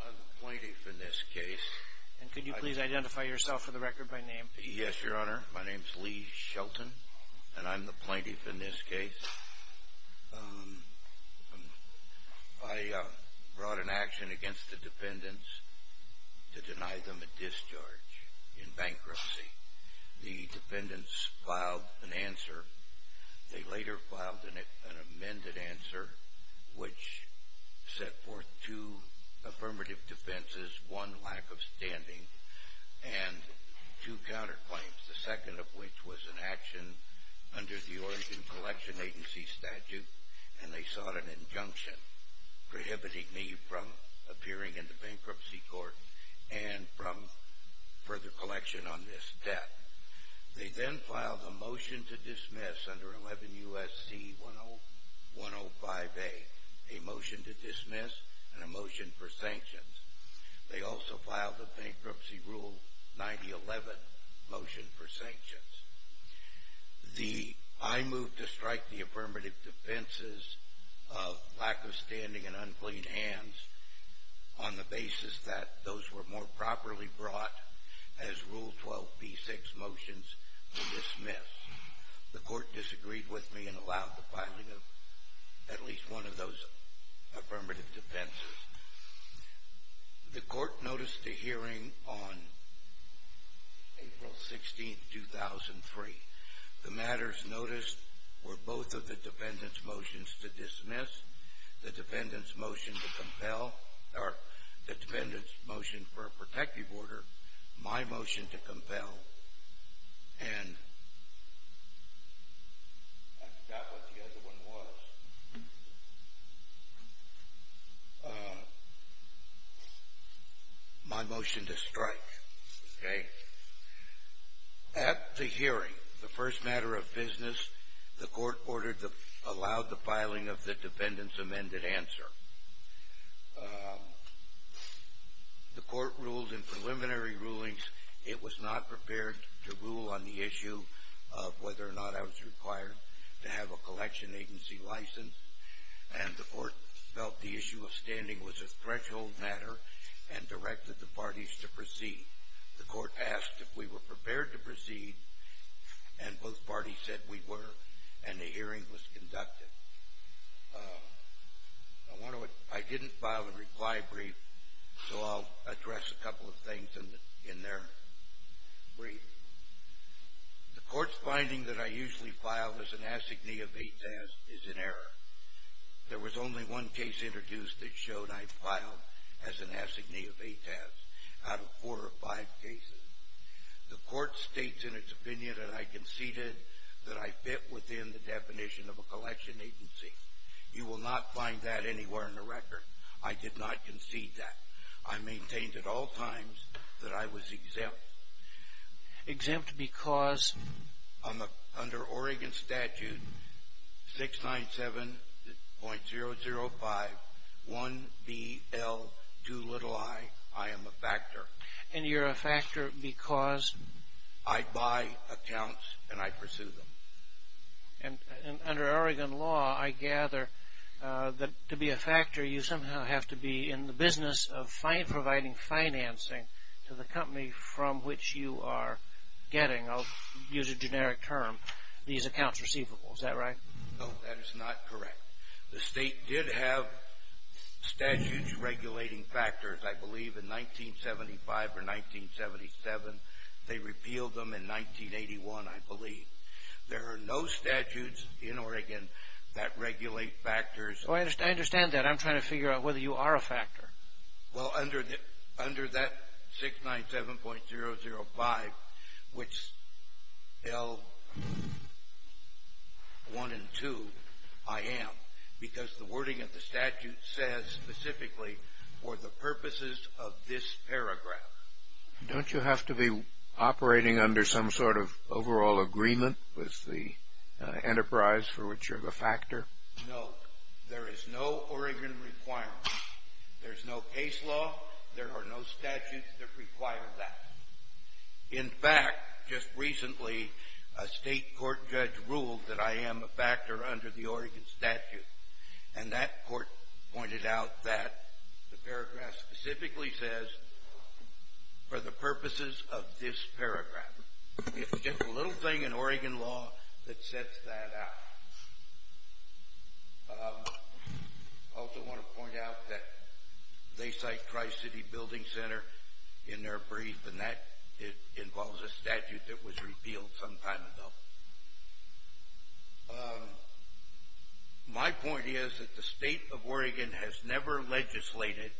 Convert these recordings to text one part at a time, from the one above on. I'm the plaintiff in this case. And could you please identify yourself for the record by name? Yes, Your Honor. My name's Lee Shelton, and I'm the plaintiff in this case. I brought an action against the defendants to deny them a discharge in bankruptcy. The defendants filed an answer. They later filed an amended answer, which set forth two affirmative defenses, one lack of standing, and two counterclaims, the second of which was an action under the Oregon Collection Agency statute, and they sought an injunction prohibiting me from appearing in the bankruptcy court and from further collection on this debt. They then filed a motion to dismiss under 11 U.S.C. 105A, a motion to dismiss and a motion for sanctions. They also filed a bankruptcy rule 9011 motion for sanctions. I moved to strike the affirmative defenses of lack of standing and unclean hands on the basis that those were more properly brought as Rule 12b-6 motions to dismiss. The court disagreed with me and allowed the filing of at least one of those affirmative defenses. The court noticed a hearing on April 16, 2003. The matters noticed were both of the defendants' motions to dismiss, the defendants' motion to compel, or the defendants' motion for a protective order, my motion to compel, and I forgot what the other one was. My motion to strike, okay? At the hearing, the first matter of business, the court allowed the filing of the defendant's amended answer. The court ruled in preliminary rulings it was not prepared to rule on the issue of whether or not I was required to have a collection agency license, and the court felt the issue of standing was a threshold matter and directed the parties to proceed. The court asked if we were prepared to proceed, and both parties said we were, and the hearing was conducted. I didn't file a reply brief, so I'll address a couple of things in their brief. The court's finding that I usually filed as an assignee of ATAS is in error. There was only one case introduced that showed I filed as an assignee of ATAS. Out of four or five cases, the court states in its opinion that I conceded that I fit within the definition of a collection agency. You will not find that anywhere in the record. I did not concede that. I maintained at all times that I was exempt, exempt because under Oregon Statute 697.005 1BL2i, I am a factor. And you're a factor because? I buy accounts, and I pursue them. And under Oregon law, I gather that to be a factor, you somehow have to be in the business of providing financing to the company from which you are getting, I'll use a generic term, these accounts receivable. Is that right? No, that is not correct. The state did have statutes regulating factors, I believe, in 1975 or 1977. They repealed them in 1981, I believe. There are no statutes in Oregon that regulate factors. I understand that. I'm trying to figure out whether you are a factor. Well, under that 697.005, which L1 and 2, I am, because the wording of the statute says specifically for the purposes of this paragraph. Don't you have to be operating under some sort of overall agreement with the enterprise for which you're the factor? No, there is no Oregon requirement. There is no case law. There are no statutes that require that. In fact, just recently, a state court judge ruled that I am a factor under the Oregon statute, and that court pointed out that the paragraph specifically says for the purposes of this paragraph. It's just a little thing in Oregon law that sets that out. I also want to point out that they cite Tri-City Building Center in their brief, and that involves a statute that was repealed some time ago. My point is that the state of Oregon has never legislated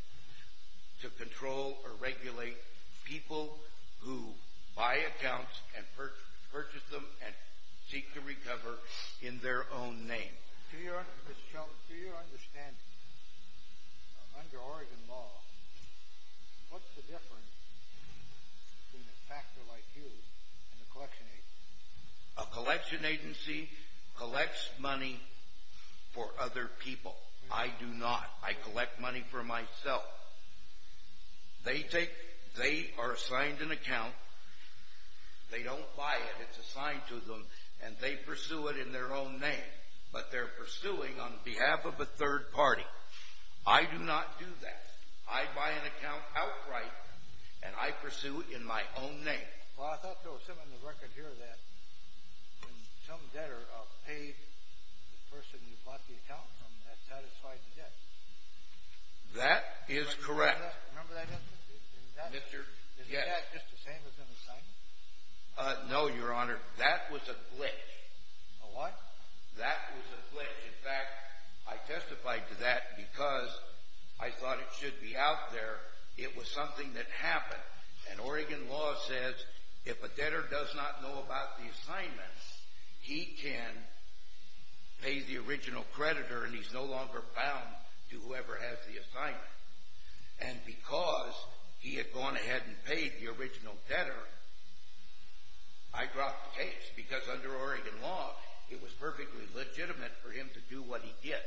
to control or regulate people who buy accounts and purchase them and seek to recover in their own name. To your understanding, under Oregon law, what's the difference between a factor like you and a collection agency? A collection agency collects money for other people. I do not. I collect money for myself. They are assigned an account. They don't buy it. It's assigned to them, and they pursue it in their own name. But they're pursuing on behalf of a third party. I do not do that. I buy an account outright, and I pursue it in my own name. Well, I thought there was something in the record here that when some debtor paid the person who bought the account from them, that satisfied the debt. That is correct. Remember that instance? Yes. Isn't that just the same as an assignment? No, Your Honor. That was a glitch. A what? That was a glitch. In fact, I testified to that because I thought it should be out there. It was something that happened, and Oregon law says if a debtor does not know about the assignment, he can pay the original creditor, and he's no longer bound to whoever has the assignment. And because he had gone ahead and paid the original debtor, I dropped the case because under Oregon law, it was perfectly legitimate for him to do what he did.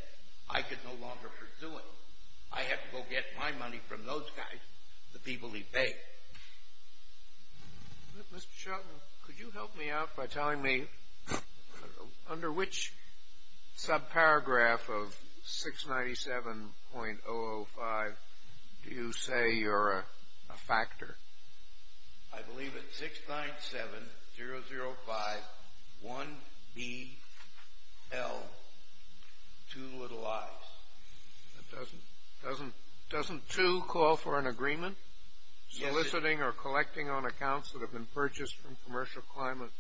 I could no longer pursue it. I had to go get my money from those guys, the people he paid. Mr. Shultz, could you help me out by telling me under which subparagraph of 697.005 do you say you're a factor? I believe it's 697.005.1BL. Two little i's. Doesn't two call for an agreement? Yes, it does. Soliciting or collecting on accounts that have been purchased from commercial clients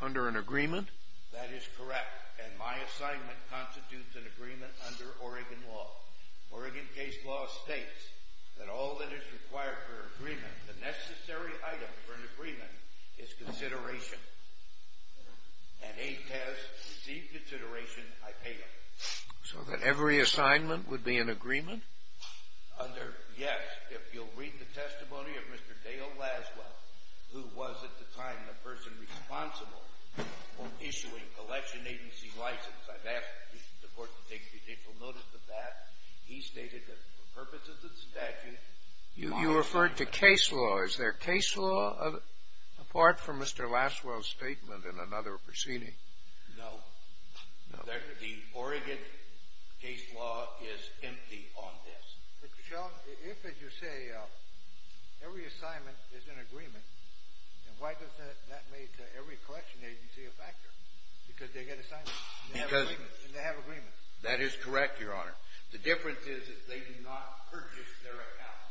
under an agreement? That is correct, and my assignment constitutes an agreement under Oregon law. Oregon case law states that all that is required for an agreement, the necessary item for an agreement, is consideration. And he has received consideration. I pay him. So that every assignment would be an agreement? Under, yes. If you'll read the testimony of Mr. Dale Laswell, who was at the time the person responsible for issuing collection agency license. I've asked the Court to take judicial notice of that. He stated that for purposes of statute law. You referred to case law. Is there case law apart from Mr. Laswell's statement in another proceeding? No. No. The Oregon case law is empty on this. But, Your Honor, if, as you say, every assignment is an agreement, then why does that make every collection agency a factor? Because they get assignments, and they have agreements. That is correct, Your Honor. The difference is that they do not purchase their accounts.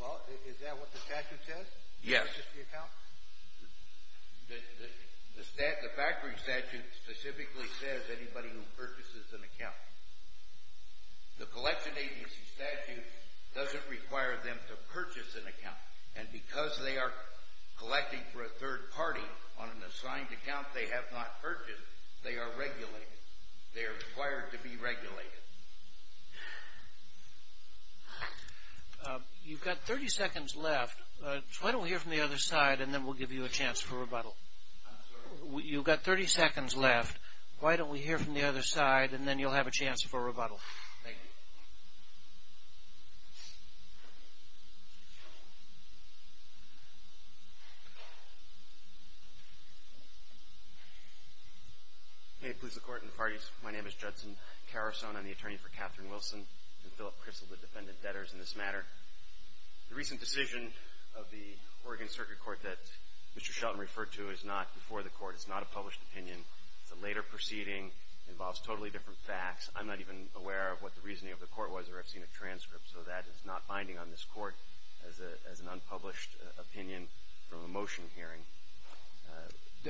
Well, is that what the statute says? Yes. They purchase the account? The factory statute specifically says anybody who purchases an account. The collection agency statute doesn't require them to purchase an account. And because they are collecting for a third party on an assigned account they have not purchased, they are regulated. They are required to be regulated. You've got 30 seconds left. Why don't we hear from the other side, and then we'll give you a chance for rebuttal. I'm sorry? You've got 30 seconds left. Why don't we hear from the other side, and then you'll have a chance for rebuttal. Thank you. Hey, police, the court, and the parties. My name is Judson Carrison. I'm the attorney for Katherine Wilson and Philip Crystal, the defendant debtors in this matter. The recent decision of the Oregon Circuit Court that Mr. Shelton referred to is not before the court. It's not a published opinion. It's a later proceeding. It involves totally different facts. I'm not even aware of what the reasoning of the court was, or I've seen a transcript, so that is not binding on this court as an unpublished opinion from a motion hearing.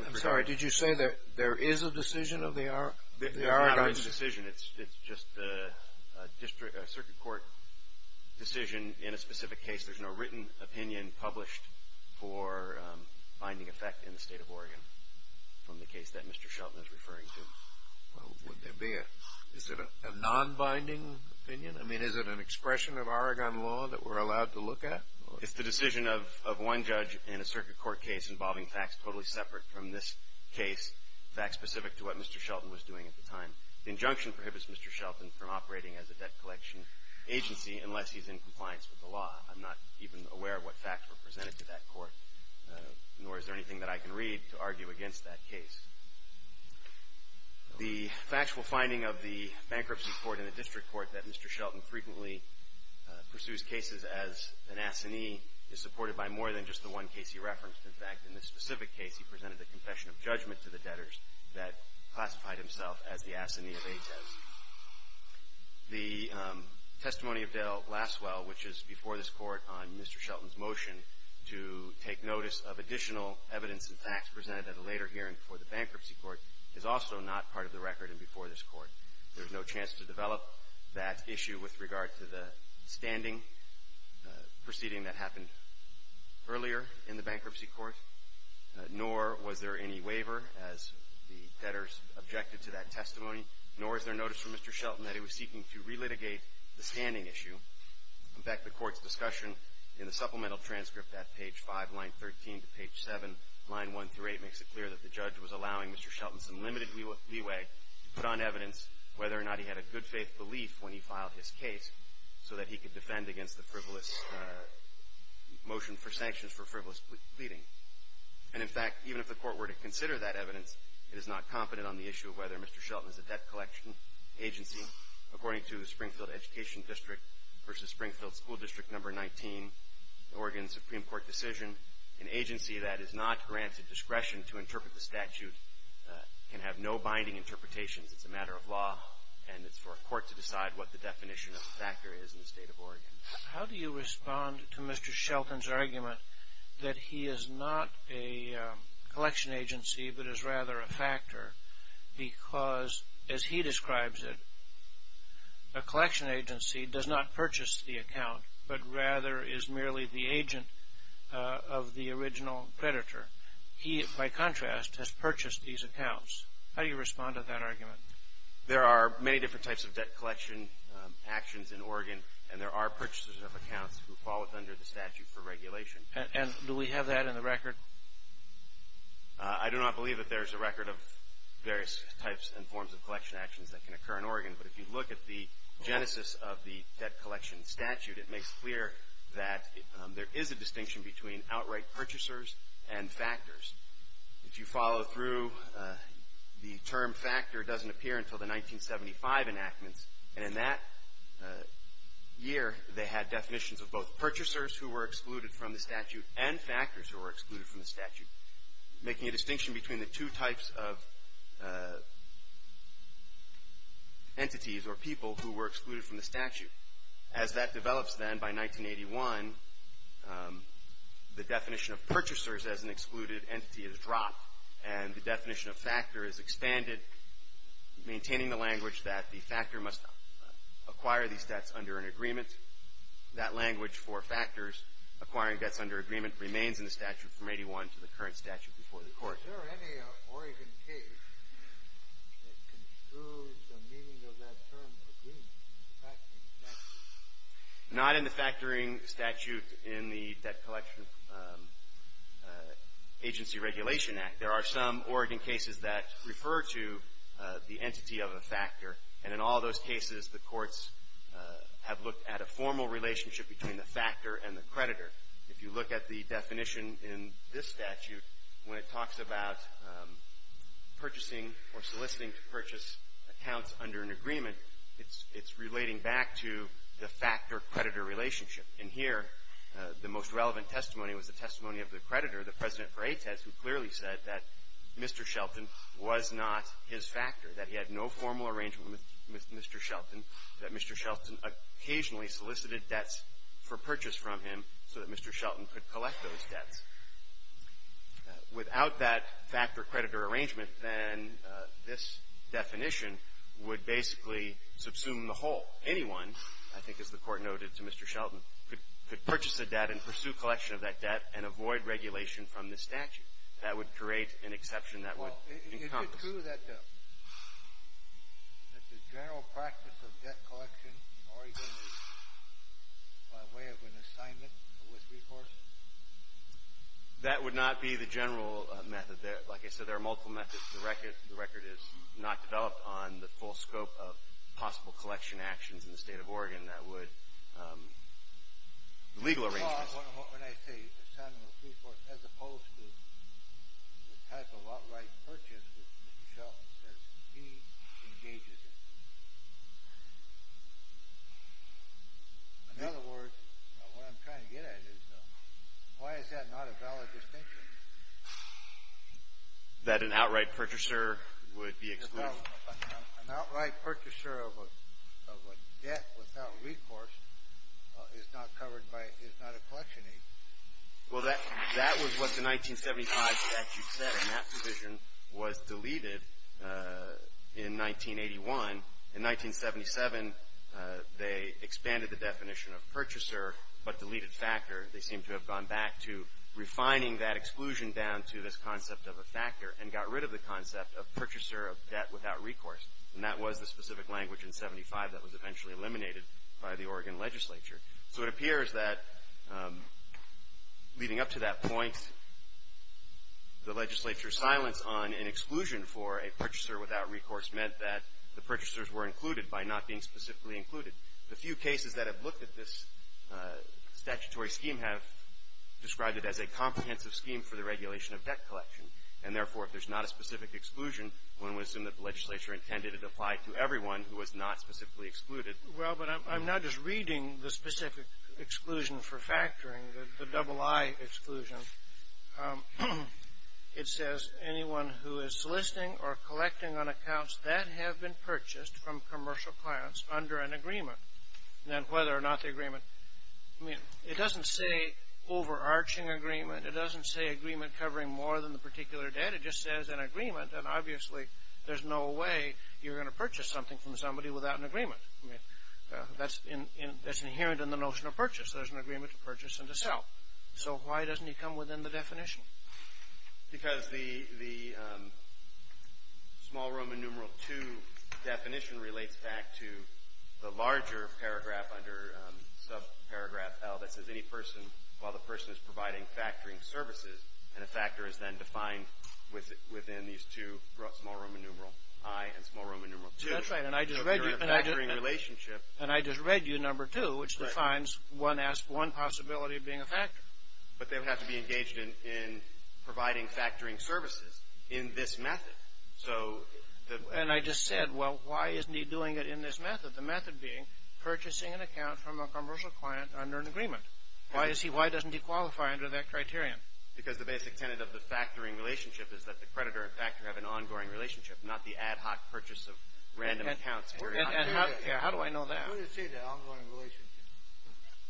I'm sorry. Did you say that there is a decision of the Oregon Circuit? It's not a decision. It's just a circuit court decision in a specific case. There's no written opinion published for binding effect in the state of Oregon from the case that Mr. Shelton is referring to. Would there be a non-binding opinion? I mean, is it an expression of Oregon law that we're allowed to look at? It's the decision of one judge in a circuit court case involving facts totally separate from this case, facts specific to what Mr. Shelton was doing at the time. The injunction prohibits Mr. Shelton from operating as a debt collection agency unless he's in compliance with the law. I'm not even aware of what facts were presented to that court, nor is there anything that I can read to argue against that case. The factual finding of the bankruptcy court in the district court that Mr. Shelton frequently pursues cases as an assignee is supported by more than just the one case he referenced. In fact, in this specific case, he presented a confession of judgment to the debtors that classified himself as the assignee of eight debts. The testimony of Dale Lasswell, which is before this Court on Mr. Shelton's motion, to take notice of additional evidence and facts presented at a later hearing before the bankruptcy court is also not part of the record and before this Court. There's no chance to develop that issue with regard to the standing proceeding that happened earlier in the bankruptcy court, nor was there any waiver, as the debtors objected to that testimony, nor is there notice from Mr. Shelton that he was seeking to relitigate the standing issue. In fact, the Court's discussion in the supplemental transcript at page 5, line 13 to page 7, line 1 through 8, makes it clear that the judge was allowing Mr. Shelton some limited leeway to put on evidence whether or not he had a good-faith belief when he filed his case so that he could defend against the frivolous motion for sanctions for frivolous pleading. And, in fact, even if the Court were to consider that evidence, it is not confident on the issue of whether Mr. Shelton is a debt collection agency. According to the Springfield Education District v. Springfield School District No. 19, Oregon Supreme Court decision, an agency that is not granted discretion to interpret the statute can have no binding interpretations. It's a matter of law, and it's for a court to decide what the definition of the factor is in the State of Oregon. How do you respond to Mr. Shelton's argument that he is not a collection agency but is rather a factor because, as he describes it, a collection agency does not purchase the account but rather is merely the agent of the original predator? He, by contrast, has purchased these accounts. How do you respond to that argument? There are many different types of debt collection actions in Oregon, and there are purchasers of accounts who fall under the statute for regulation. And do we have that in the record? I do not believe that there is a record of various types and forms of collection actions that can occur in Oregon. But if you look at the genesis of the debt collection statute, it makes clear that there is a distinction between outright purchasers and factors. If you follow through, the term factor doesn't appear until the 1975 enactments. And in that year, they had definitions of both purchasers who were excluded from the statute and factors who were excluded from the statute, making a distinction between the two types of entities or people who were excluded from the statute. As that develops, then, by 1981, the definition of purchasers as an excluded entity is dropped, and the definition of factor is expanded, maintaining the language that the factor must acquire these debts under an agreement. That language for factors acquiring debts under agreement remains in the statute from 1981 to the current statute before the Court. Is there any Oregon case that construes the meaning of that term agreement, the factoring statute? Not in the factoring statute in the Debt Collection Agency Regulation Act. There are some Oregon cases that refer to the entity of a factor, and in all those cases, the courts have looked at a formal relationship between the factor and the creditor. If you look at the definition in this statute, when it talks about purchasing or soliciting to purchase accounts under an agreement, it's relating back to the factor-creditor relationship. And here, the most relevant testimony was the testimony of the creditor, the President for AITES, who clearly said that Mr. Shelton was not his factor, that he had no formal arrangement with Mr. Shelton, that Mr. Shelton occasionally solicited debts for purchase from him so that Mr. Shelton could collect those debts. Without that factor-creditor arrangement, then this definition would basically subsume the whole. Anyone, I think as the Court noted to Mr. Shelton, could purchase a debt and pursue collection of that debt and avoid regulation from this statute. That would create an exception that would encompass. Is it true that the general practice of debt collection in Oregon is by way of an assignment with Rehorse? That would not be the general method. Like I said, there are multiple methods. The record is not developed on the full scope of possible collection actions in the State of Oregon that would – legal arrangements. When I say assignment with Rehorse, as opposed to the type of outright purchase that Mr. Shelton says he engages in. In other words, what I'm trying to get at is why is that not a valid distinction? That an outright purchaser would be excluded. An outright purchaser of a debt without Rehorse is not covered by – is not a collection aid. Well, that was what the 1975 statute said, and that provision was deleted in 1981. In 1977, they expanded the definition of purchaser but deleted factor. They seem to have gone back to refining that exclusion down to this concept of a factor and got rid of the concept of purchaser of debt without Rehorse. And that was the specific language in 1975 that was eventually eliminated by the Oregon legislature. So it appears that leading up to that point, the legislature's silence on an exclusion for a purchaser without Rehorse meant that the purchasers were included by not being specifically included. The few cases that have looked at this statutory scheme have described it as a comprehensive scheme for the regulation of debt collection. And therefore, if there's not a specific exclusion, one would assume that the legislature intended it applied to everyone who was not specifically excluded. Well, but I'm not just reading the specific exclusion for factoring, the double I exclusion. It says anyone who is soliciting or collecting on accounts that have been purchased from commercial clients under an agreement, then whether or not the agreement – I mean, it doesn't say overarching agreement. It doesn't say agreement covering more than the particular debt. It just says an agreement. And obviously, there's no way you're going to purchase something from somebody without an agreement. That's inherent in the notion of purchase. There's an agreement to purchase and to sell. So why doesn't it come within the definition? Because the small Roman numeral II definition relates back to the larger paragraph under subparagraph L that says any person, while the person is providing factoring services, and a factor is then defined within these two, small Roman numeral I and small Roman numeral II. That's right. And I just read you number two, which defines one possibility of being a factor. But they would have to be engaged in providing factoring services in this method. And I just said, well, why isn't he doing it in this method? The method being purchasing an account from a commercial client under an agreement. Why is he – why doesn't he qualify under that criterion? Because the basic tenet of the factoring relationship is that the creditor and factor have an ongoing relationship, not the ad hoc purchase of random accounts. And how do I know that? I'm going to say the ongoing relationship.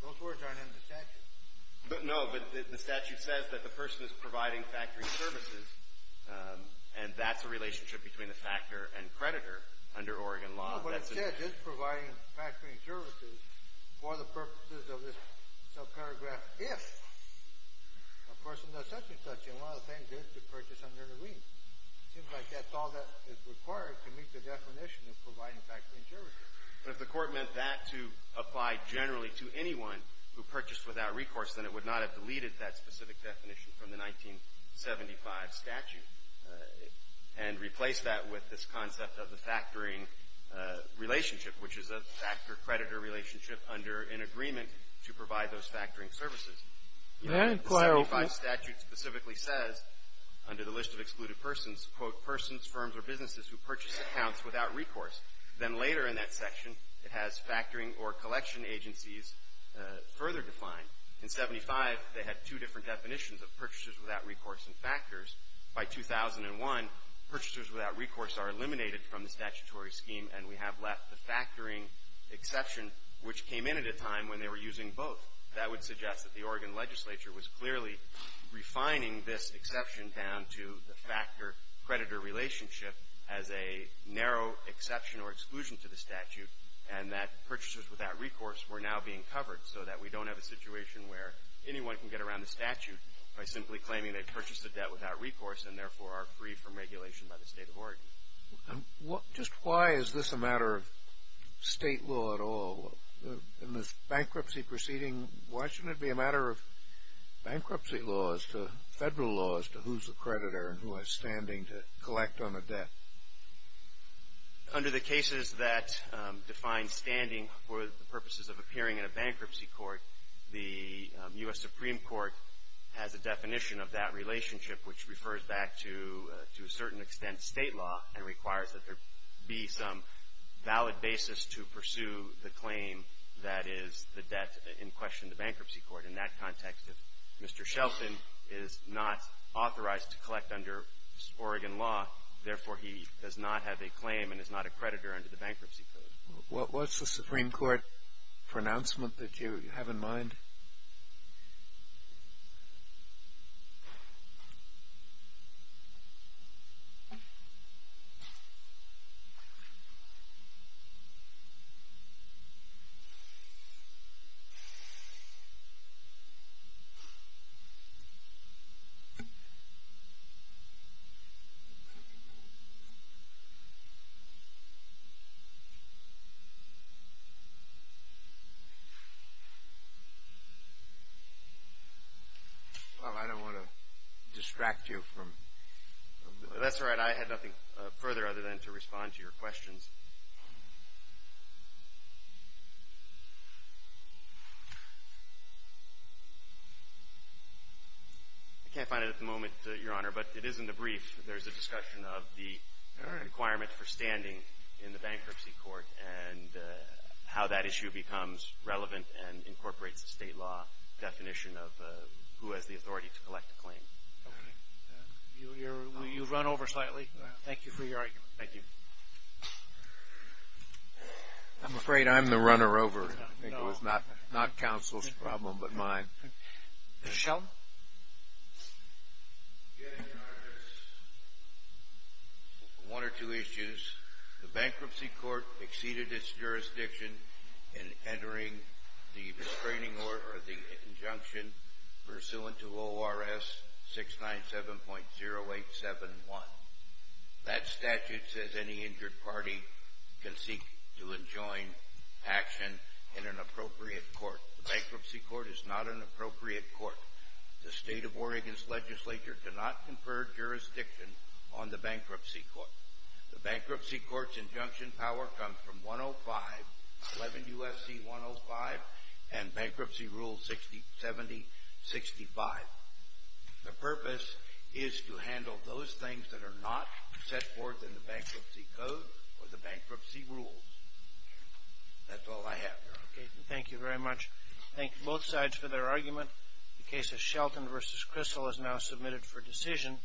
Those words aren't in the statute. No, but the statute says that the person is providing factory services, and that's a relationship between the factor and creditor under Oregon law. But all of what it said is providing factoring services for the purposes of this subparagraph, if a person does such and such, and one of the things is to purchase under an agreement. It seems like that's all that is required to meet the definition of providing factoring services. But if the court meant that to apply generally to anyone who purchased without recourse, then it would not have deleted that specific definition from the 1975 statute and replace that with this concept of the factoring relationship, which is a factor-creditor relationship under an agreement to provide those factoring services. The 1975 statute specifically says, under the list of excluded persons, quote, persons, firms, or businesses who purchase accounts without recourse. Then later in that section, it has factoring or collection agencies further defined. In 1975, they had two different definitions of purchasers without recourse and factors. By 2001, purchasers without recourse are eliminated from the statutory scheme, and we have left the factoring exception, which came in at a time when they were using both. That would suggest that the Oregon legislature was clearly refining this exception down to the factor-creditor relationship as a narrow exception or exclusion to the statute, and that purchasers without recourse were now being covered so that we don't have a situation where anyone can get around the statute by simply claiming they purchased a debt without recourse and therefore are free from regulation by the state of Oregon. And just why is this a matter of state law at all? In this bankruptcy proceeding, why shouldn't it be a matter of bankruptcy laws to federal laws to who's the creditor and who has standing to collect on the debt? Under the cases that define standing for the purposes of appearing in a bankruptcy court, the U.S. Supreme Court has a definition of that relationship, which refers back to a certain extent state law and requires that there be some valid basis to pursue the claim that is the debt in question in the bankruptcy court. In that context, if Mr. Shelton is not authorized to collect under Oregon law, therefore he does not have a claim and is not a creditor under the bankruptcy code. What's the Supreme Court pronouncement that you have in mind? Well, I don't want to distract you from... That's all right. I had nothing further other than to respond to your questions. I can't find it at the moment, Your Honor, but it is in the brief. There's a discussion of the requirement for standing in the bankruptcy court and how that issue becomes relevant and incorporates the state law definition of who has the authority to collect a claim. Okay. Will you run over slightly? Thank you for your argument. Thank you. I'm afraid I'm the runner over. I think it was not counsel's problem but mine. Mr. Shelton? Yes, Your Honor. There's one or two issues. The bankruptcy court exceeded its jurisdiction in entering the restraining order or the injunction pursuant to ORS 697.0871. That statute says any injured party can seek to enjoin action in an appropriate court. The bankruptcy court is not an appropriate court. The state of Oregon's legislature cannot confer jurisdiction on the bankruptcy court. The bankruptcy court's injunction power comes from 105, 11 U.S.C. 105, and Bankruptcy Rule 7065. The purpose is to handle those things that are not set forth in the bankruptcy code or the bankruptcy rules. That's all I have, Your Honor. Okay. Thank you very much. Thank both sides for their argument. The case of Shelton v. Crystal is now submitted for decision.